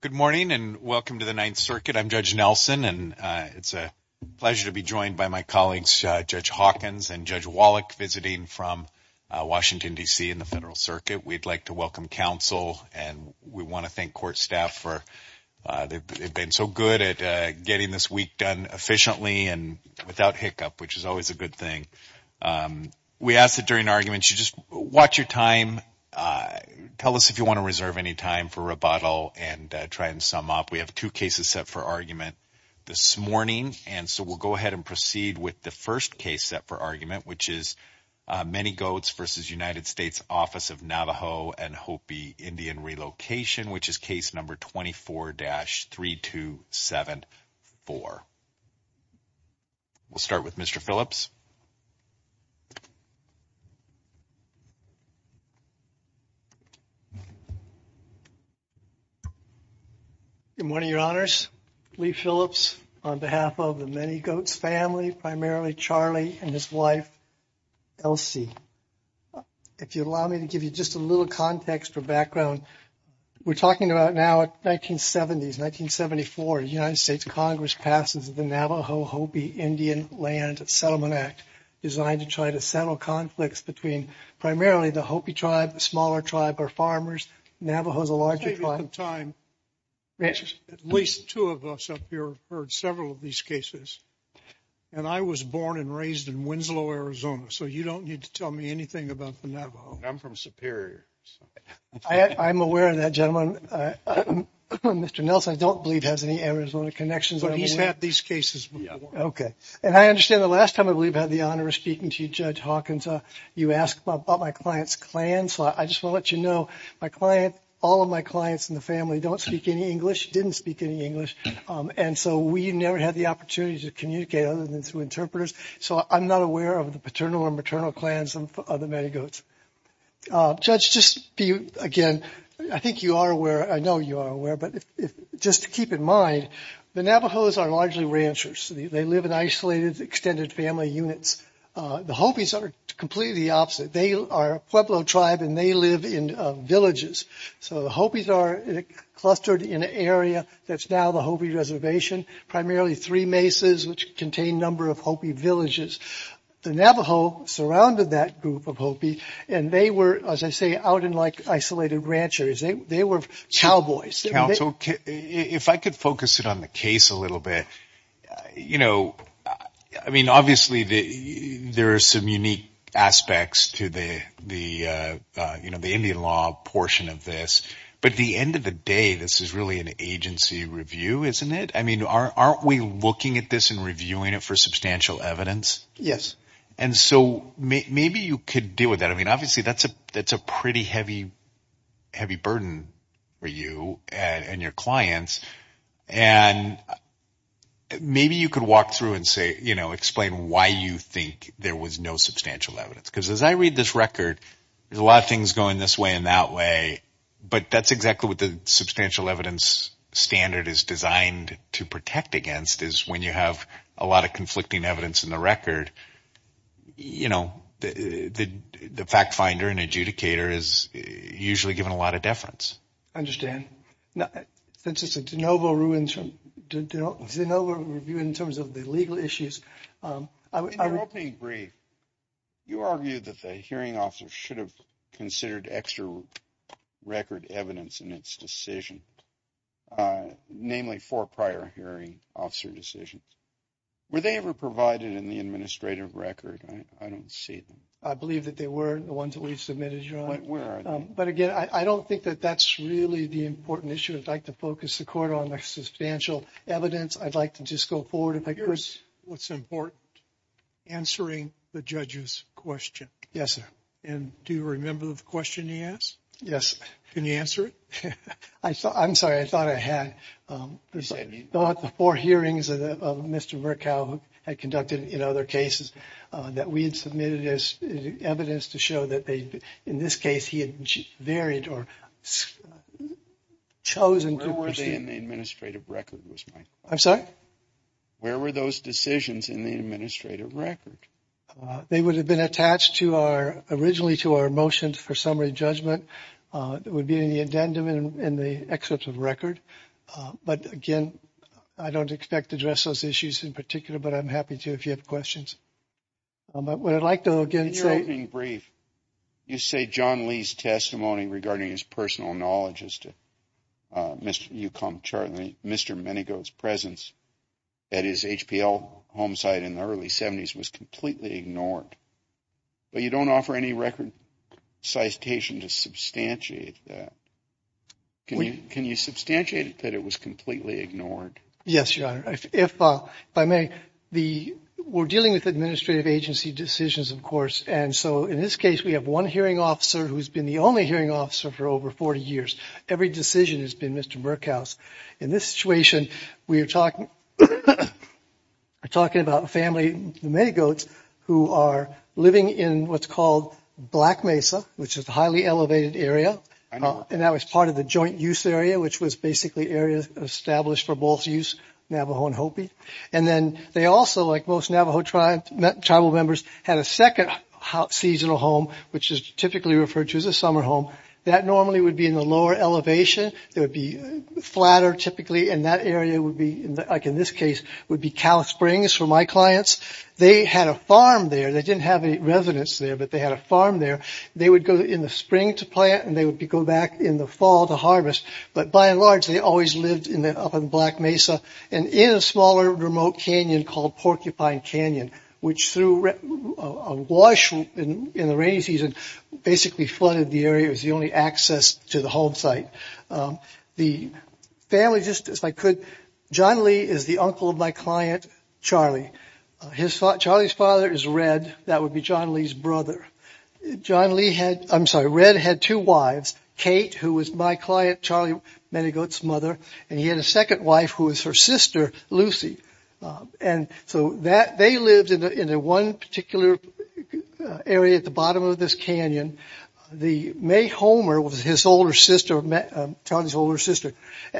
Good morning and welcome to the Ninth Circuit. I'm Judge Nelson and it's a pleasure to be joined by my colleagues, Judge Hawkins and Judge Wallach, visiting from Washington, D.C. in the Federal Circuit. We'd like to welcome counsel and we want to thank court staff for – they've been so good at getting this week done efficiently and without hiccup, which is always a good thing. We ask that during arguments you just watch your time, tell us if you want to reserve any time for rebuttal and try and sum up. We have two cases set for argument this morning and so we'll go ahead and proceed with the first case set for argument, which is Manygoats v. United States Office of Navajo and Hopi Indian Relocation, which is case number 24-3274. We'll start with Mr. Phillips. Good morning, Your Honors. Lee Phillips on behalf of the Manygoats family, primarily Charlie and his wife, Elsie. If you allow me to give you just a little context or background, we're talking about now 1970s, 1974, United States Congress passes the Navajo-Hopi Indian Land Settlement Act, designed to try to settle conflicts between primarily the Hopi tribe, the smaller tribe, or farmers. Navajo is a larger tribe. At least two of us up here have heard several of these cases and I was born and raised in Winslow, Arizona, so you don't need to tell me anything about the Navajo. I'm from Superior. I'm aware of that, gentlemen. Mr. Nelson, I don't believe, has any Arizona connections. But he's had these cases before. Okay. And I understand the last time I was speaking to you, Judge Hawkins, you asked about my client's clan, so I just want to let you know my client, all of my clients in the family don't speak any English, didn't speak any English, and so we never had the opportunity to communicate other than through interpreters, so I'm not aware of the paternal or maternal clans of the Manygoats. Judge, just be, again, I think you are aware, I know you are aware, but just to keep in mind, the Navajos are largely ranchers. They live in isolated extended family units. The Hopis are completely the opposite. They are a Pueblo tribe and they live in villages. So the Hopis are clustered in an area that's now the Hopi Reservation, primarily three mesas, which contain a number of Hopi villages. The Navajo surrounded that group of Hopi and they were, as I say, out in like isolated ranch areas. They were cowboys. Counsel, if I could focus in on the case a little bit, you know, I mean, obviously there are some unique aspects to the Indian law portion of this, but at the end of the day, this is really an agency review, isn't it? I mean, aren't we looking at this and reviewing it for substantial evidence? Yes. And so maybe you could deal with it. I mean, obviously that's a pretty heavy, heavy burden for you and your clients. And maybe you could walk through and say, you know, explain why you think there was no substantial evidence. Because as I read this record, there's a lot of things going this way and that way, but that's exactly what the substantial evidence standard is designed to protect against is when you have a lot of conflicting evidence in the record, you know, the fact finder and adjudicator is usually given a lot of deference. I understand. Now, since it's a de novo review in terms of the legal issues. In your opening brief, you argued that the hearing officer should have considered extra record evidence in its decision, namely for prior hearing officer decisions. Were they ever provided in the administrative record? I don't see them. I believe that they were the ones that we submitted. But again, I don't think that that's really the important issue. I'd like to focus the court on my substantial evidence. I'd like to just go forward if I could. Here's what's important. Answering the judge's question. Yes, sir. And do you remember the question he asked? Yes. Can you answer it? I'm sorry. I Mr. Murkow had conducted in other cases that we had submitted as evidence to show that they in this case he had varied or chosen. Where were they in the administrative record? I'm sorry. Where were those decisions in the administrative record? They would have been attached to our originally to our motions for summary judgment. That would be in the addendum in the excerpt of record. But again, I don't expect to address those issues in particular, but I'm happy to if you have questions. But what I'd like to again, so in brief, you say John Lee's testimony regarding his personal knowledge is to Mr. You come, Charlie, Mr. Many goes presence at his HPL home site in the early 70s was completely ignored. But you don't offer any record citation to substantiate that. Can you can you substantiate that it was completely ignored? Yes, your honor. If by me, the we're dealing with administrative agency decisions, of course. And so in this case, we have one hearing officer who's been the only hearing officer for over 40 years. Every decision has been Mr. Murkowski. In this situation, we are talking. We're talking about family, many goats who are living in what's called Black Mesa, which is the highly elevated area. And that was part of the joint use area, which was basically areas established for both use, Navajo and Hopi. And then they also, like most Navajo tribe, tribal members had a second seasonal home, which is typically referred to as a summer home that normally would be in the lower elevation. There would be flatter typically in that area would be like in this case would be Cal Springs for my clients. They had a farm there. They didn't have a residence there, but they had a farm there. They would go in the spring to plant and they would go back in the fall to harvest. But by and large, they always lived in the up in Black Mesa and in a smaller remote canyon called Porcupine Canyon, which through a wash in the rainy season, basically flooded the area. It was the only access to the home site. The family, just as I could, John Lee is the uncle of my client, Charlie. His father, Charlie's father is Red. That would be John Lee's brother. John Lee had, I'm sorry, Red had two wives, Kate, who was my client, Charlie, many goats mother. And he had a second wife who was her sister, Lucy. And so that they lived in a one particular area at the bottom of this canyon. The May Homer was his older sister, Charlie's older sister.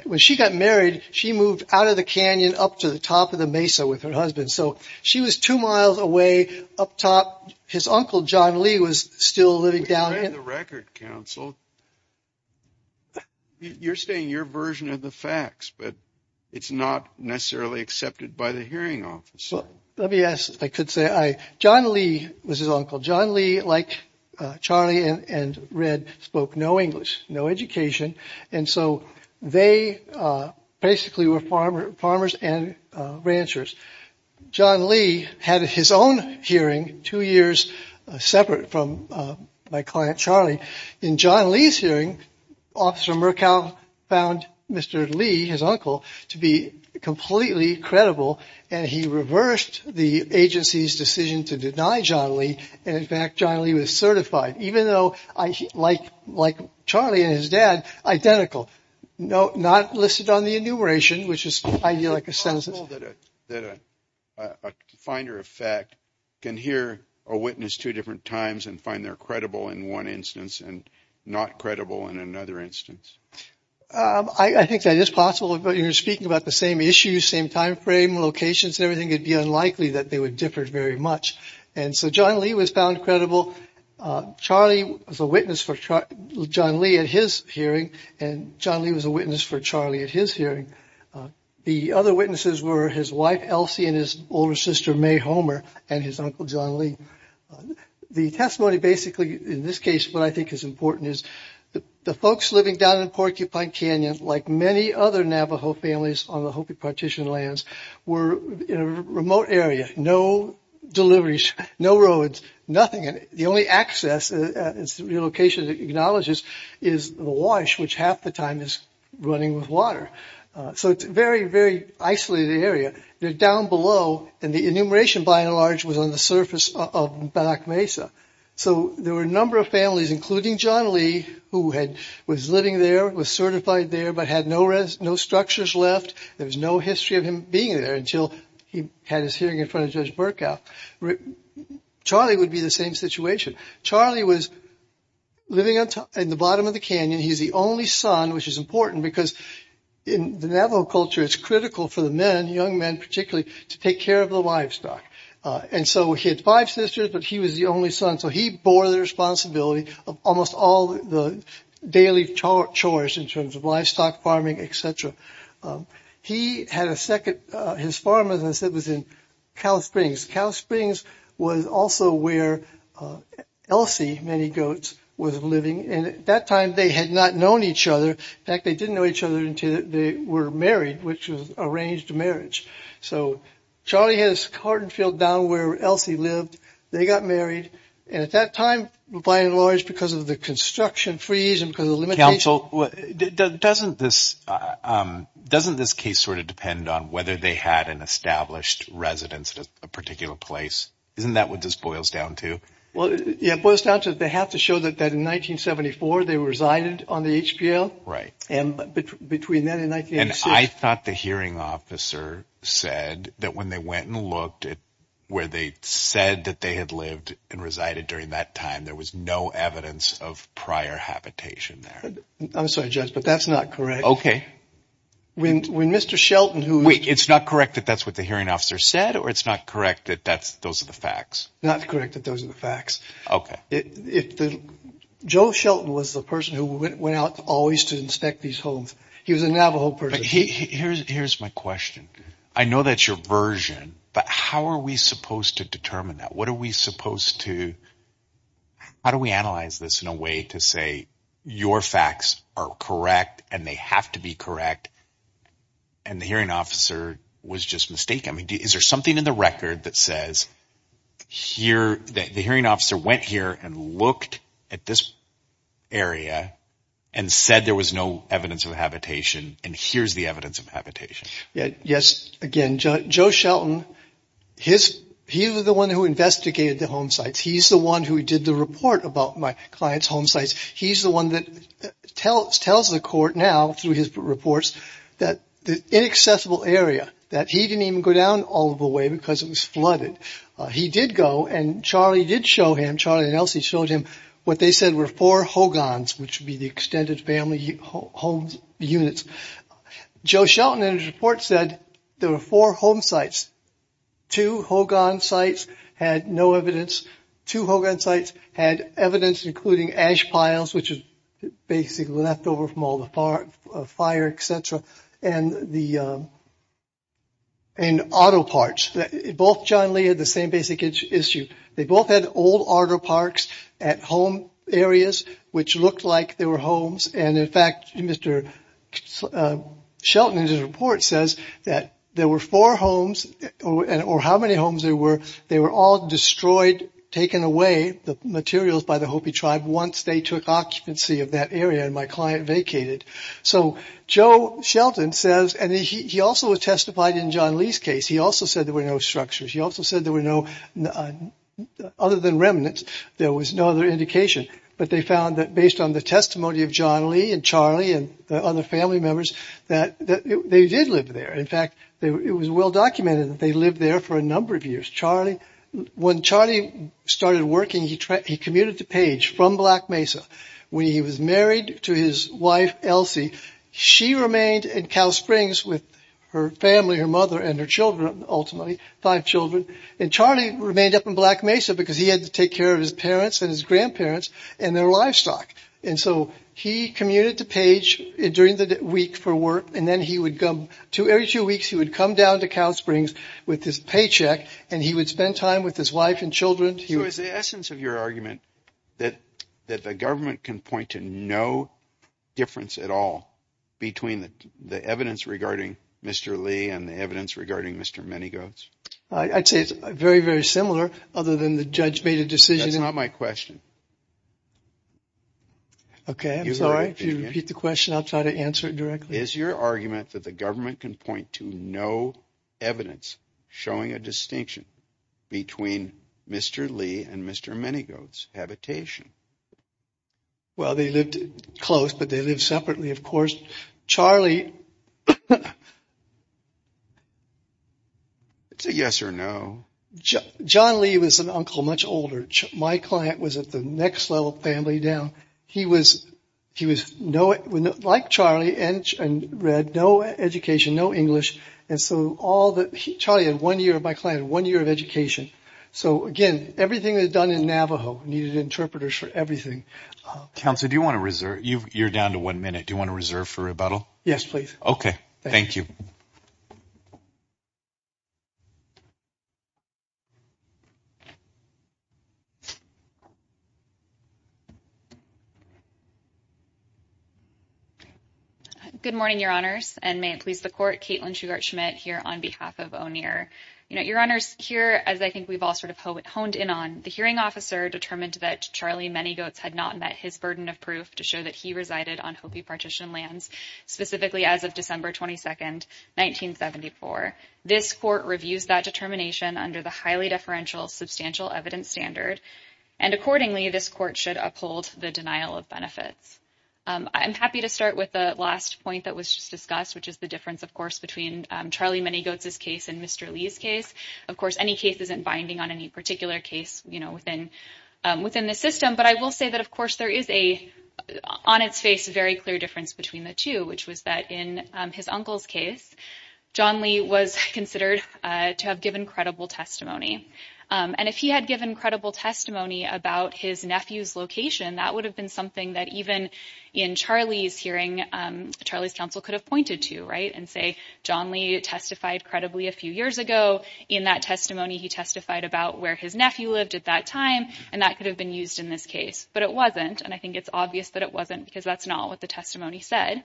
When she got married, she moved out of the canyon up to the top of the Mesa with her husband. So she was two miles away up top. His uncle, John Lee was still living down there. You're saying your version of the facts, but it's not necessarily accepted by the hearing office. Well, let me ask if I could say, John Lee was his uncle. John Lee, like Charlie and Red, spoke no English, no education. And so they basically were farmers and ranchers. John Lee had his own hearing two years separate from my client, Charlie. In John Lee's hearing, Officer Murkow found Mr. Lee, his uncle, to be completely credible. And he reversed the agency's decision to deny John Lee. And in fact, John Lee was certified, even though I like like Charlie and his dad identical. No, not listed on the enumeration, which is ideal. Is it possible that a finder of fact can hear a witness two different times and find they're credible in one instance and not credible in another instance? I think that is possible. But you're speaking about the same issues, same time frame, locations, everything. It'd be unlikely that they would differ very much. And so John Lee was found credible. Charlie was a witness for John Lee at his hearing, and John Lee was a witness for Charlie at his hearing. The other witnesses were his wife, Elsie, and his older sister, May Homer, and his uncle, John Lee. The testimony basically, in this case, what I think is important is the folks living down in Porcupine Canyon, like many other Navajo families on the Hopi Partition lands, were in a remote area. No deliveries, no roads, nothing. And the only access, relocation acknowledges, is the wash, which half the time is running with water. So it's very, very isolated area. They're down below. And the enumeration, by and large, was on the surface of Banach Mesa. So there were a number of families, including John Lee, who had was living there, was certified there, but had no rest, no structures left. There was no history of him being there until he had his hearing in front of Judge Burkow. Charlie would be the same situation. Charlie was living in the bottom of the canyon. He's the only son, which is important because in the Navajo culture, it's critical for the men, young men particularly, to take care of the livestock. And so he had five sisters, but he was the only son. So he bore the responsibility of almost all the daily chores in terms of livestock farming, etc. He had a second, his farm, as I said, was in Cow Springs. Cow Springs was also where Elsie, many goats, was living. And at that time, they had not known each other. In fact, they didn't know each other until they were married, which was arranged marriage. So Charlie had his cart and field down where Elsie lived. They got married. And at that time, by and large, because of the construction freeze and because of the limitations... Counsel, doesn't this case sort of depend on whether they had an established residence at a particular place? Isn't that what this boils down to? Well, yeah, it boils down to they have to show that in 1974, they resided on the HPL. Right. And between then and 1986... And I thought the hearing officer said that when they went and where they said that they had lived and resided during that time, there was no evidence of prior habitation there. I'm sorry, Judge, but that's not correct. Okay. When Mr. Shelton, who... Wait, it's not correct that that's what the hearing officer said, or it's not correct that those are the facts? Not correct that those are the facts. Okay. Joe Shelton was the person who went out always to inspect these homes. He was a Navajo person. Here's my question. I know that's subversion, but how are we supposed to determine that? What are we supposed to... How do we analyze this in a way to say your facts are correct and they have to be correct? And the hearing officer was just mistaken. I mean, is there something in the record that says the hearing officer went here and looked at this area and said there was no evidence of and here's the evidence of habitation? Yes. Again, Joe Shelton, he was the one who investigated the home sites. He's the one who did the report about my client's home sites. He's the one that tells the court now through his reports that the inaccessible area, that he didn't even go down all the way because it was flooded. He did go and Charlie did show him, Charlie and Joe Shelton in his report said there were four home sites, two Hogan sites had no evidence, two Hogan sites had evidence including ash piles, which is basically left over from all the fire, et cetera, and the auto parts. Both John Lee had the same basic issue. They both had old auto parks at home areas, which looked like they were homes. And in fact, Mr. Shelton in his report says that there were four homes or how many homes there were. They were all destroyed, taken away, the materials by the Hopi tribe once they took occupancy of that area and my client vacated. So Joe Shelton says, and he also testified in John Lee's case, he also said there were no structures. He also said there were no, other than remnants, there was no other indication, but they found that based on the testimony of John Lee and Charlie and the other family members, that they did live there. In fact, it was well documented that they lived there for a number of years. Charlie, when Charlie started working, he commuted to Page from Black Mesa. When he was married to his wife, Elsie, she remained in Cal Springs with her family, her mother and her children, ultimately five children. And Charlie remained up in Black Mesa because he had to take care of his parents and his grandparents and their livestock. And so he commuted to Page during the week for work. And then he would come to every two weeks, he would come down to Cal Springs with his paycheck and he would spend time with his wife and children. So is the essence of your argument that the government can point to no difference at all between the evidence regarding Mr. Lee and the evidence regarding Mr. Manygoats? I'd say it's very, very similar, other than the judge made a decision. That's not my question. Okay, I'm sorry. If you repeat the question, I'll try to answer it directly. Is your argument that the government can point to no evidence showing a distinction between Mr. Lee and Mr. Manygoats habitation? Well, they lived close, but they lived separately, of course, Charlie. It's a yes or no. John Lee was an uncle much older. My client was at the next level family down. He was, he was no like Charlie and read no education, no English. And so all that Charlie had one year of my client, one year of education. So again, everything is done in Navajo, needed interpreters for everything. Counsel, do you want to reserve? You're down to one minute. Do you want to reserve for rebuttal? Yes, please. Okay, thank you. Good morning, Your Honors. And may it please the court, Caitlin Shugart-Schmidt here on behalf of O'Neill. You know, Your Honors here, as I think we've all sort of honed in on the hearing officer determined that Charlie Manygoats had not met his burden of proof to show that he resided on Hopi partition lands, specifically as of December 22, 1974. This court reviews that determination under the highly deferential substantial evidence standard. And accordingly, this court should uphold the denial of benefits. I'm happy to start with the last point that was just discussed, which is the difference, of course, between Charlie Manygoats' case and Mr. Lee's case. Of course, any case isn't binding on any particular case, you know, within the system. But I will say that, of course, there is a, on its face, very clear difference between the two, which was that in his uncle's case, John Lee was considered to have given credible testimony. And if he had given credible testimony about his nephew's location, that would have been something that even in Charlie's hearing, Charlie's counsel could have pointed to, right? And say, John Lee testified credibly a few years ago. In that testimony, he testified about where his nephew lived at that time. And that could have been used in this case. But it wasn't. And I think it's obvious that it wasn't, because that's not what the testimony said.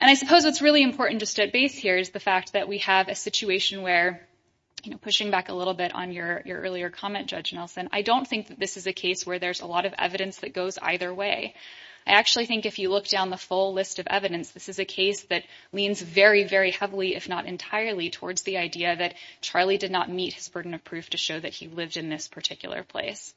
And I suppose what's really important just at base here is the fact that we have a situation where, you know, pushing back a little bit on your earlier comment, Judge Nelson, I don't think that this is a case where there's a lot of evidence that goes either way. I actually think if you look down the full list of evidence, this is a case that leans very, very heavily, if not entirely, towards the idea that Charlie did not meet his burden of proof to show that he lived in this particular place.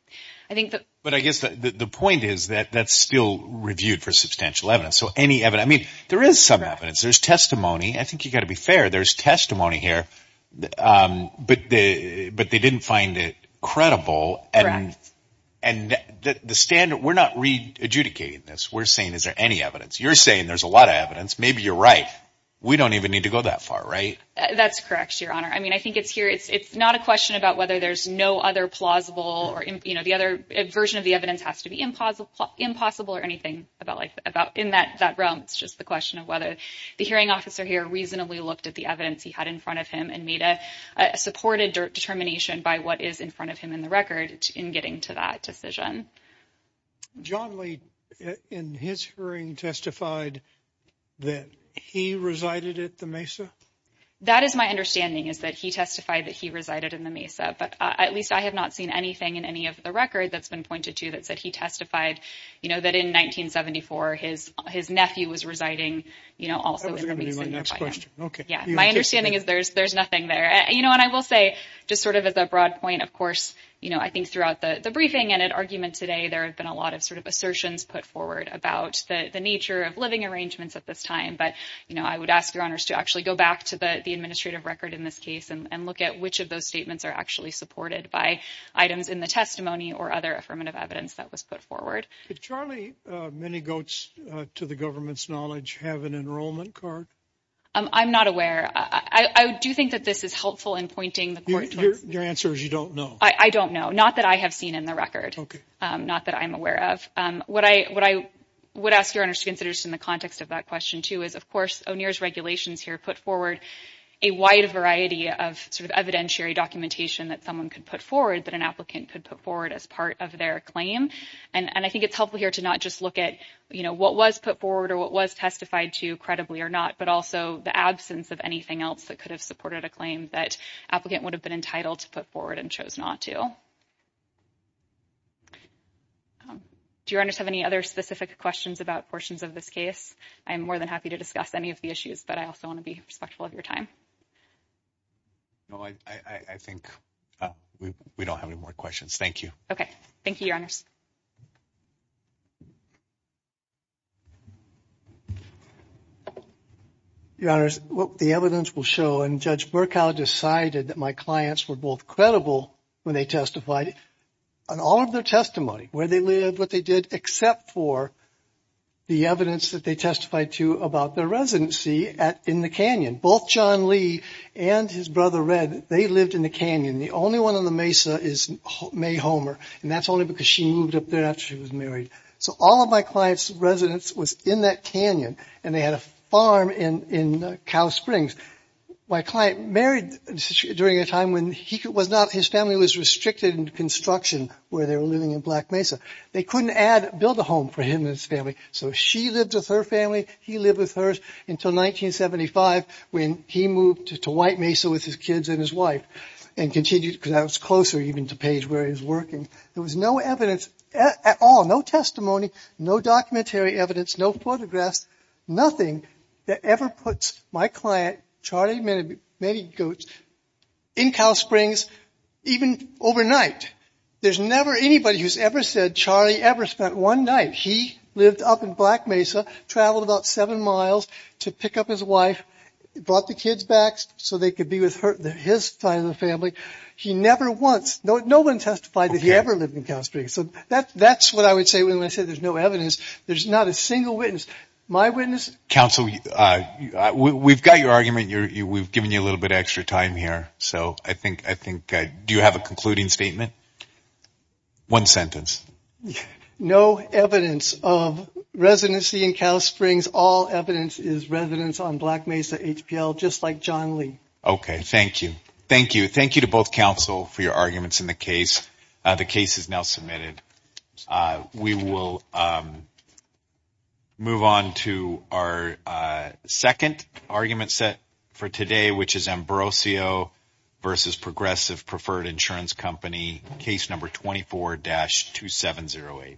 But I guess the point is that that's still reviewed for substantial evidence. So any evidence, I mean, there is some evidence. There's testimony. I think you've got to be fair. There's testimony here. But they didn't find it credible. And the standard, we're not re-adjudicating this. We're saying, is there any evidence? You're saying there's a lot of evidence. Maybe you're right. We don't even need to go that far, right? That's correct, Your Honor. I mean, I think it's here. It's not a question about whether there's no other plausible or, you know, the other version of the evidence has to be impossible or anything about in that realm. It's just the question of whether the hearing officer here reasonably looked at the evidence he had in front of him and made a supported determination by what is in front of him in the record in getting to that decision. John Lee, in his hearing, testified that he resided at the Mesa? That is my understanding, is that he testified that he resided in the Mesa. But at least I have not seen anything in any of the record that's been pointed to that said he testified, you know, that in 1974, his nephew was residing, you know, also in the Mesa. That was going to be my next question. Okay. Yeah. My understanding is there's nothing there. You know, and I will say, just sort of as a broad point, of course, you know, I think throughout the briefing and at argument today, there have been a lot of sort of assertions put forward about the nature of living arrangements at this time. But, you know, I would ask your honors to actually go back to the administrative record in this case and look at which of those statements are actually supported by items in the testimony or other affirmative evidence that was put forward. Did Charlie Many Goats, to the government's knowledge, have an enrollment card? I'm not aware. I do think that this is helpful in pointing the court. Your answer is you don't know. I don't know. Not that I have seen in the record. Not that I'm aware of. What I would ask your honors considers in the context of that question, too, is, of course, O'Neill's regulations here put forward a wide variety of sort of evidentiary documentation that someone could put forward that an applicant could put forward as part of their claim. And I think it's helpful here to not just look at, you know, what was put forward or what was testified to credibly or not, but also the absence of anything else that could have supported a claim that applicant would have entitled to put forward and chose not to. Do your honors have any other specific questions about portions of this case? I'm more than happy to discuss any of the issues, but I also want to be respectful of your time. No, I think we don't have any more questions. Thank you. Okay. Thank you, your honors. Your honors, the evidence will show, and Judge Burkow decided that my clients were both credible when they testified on all of their testimony, where they lived, what they did, except for the evidence that they testified to about their residency in the canyon. Both John Lee and his brother, Red, they lived in the canyon. The only one on the mesa is May Homer, and that's because she moved up there after she was married. So, all of my client's residence was in that canyon, and they had a farm in Cow Springs. My client married during a time when his family was restricted in construction, where they were living in Black Mesa. They couldn't build a home for him and his family, so she lived with her family, he lived with hers, until 1975, when he moved to White Mesa with his kids and his wife, and continued, because I was closer even to Page where he was working, there was no evidence at all, no testimony, no documentary evidence, no photographs, nothing that ever puts my client, Charlie Manigault, in Cow Springs, even overnight. There's never anybody who's ever said Charlie ever spent one night. He lived up in Black Mesa, traveled about seven miles to pick up his wife, brought the kids back so they could be with his family. He never once, no one testified that he ever lived in Cow Springs, so that's what I would say when I say there's no evidence. There's not a single witness. My witness... Counsel, we've got your argument, we've given you a little bit extra time here, so I think, do you have a concluding statement? One sentence. No evidence of residency in Cow Springs, all evidence is residence on Black Mesa HPL, just like John Lee. Okay, thank you. Thank you. Thank you to both counsel for your arguments in the case. The case is now submitted. We will move on to our second argument set for today, which is Ambrosio versus Progressive Preferred Insurance Company, case number 24-2708.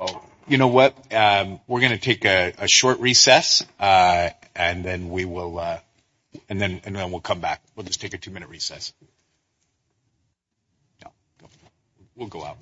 Oh, you know what? We're going to take a short recess, and then we'll come back. We'll just take a two-minute recess. No, we'll go out.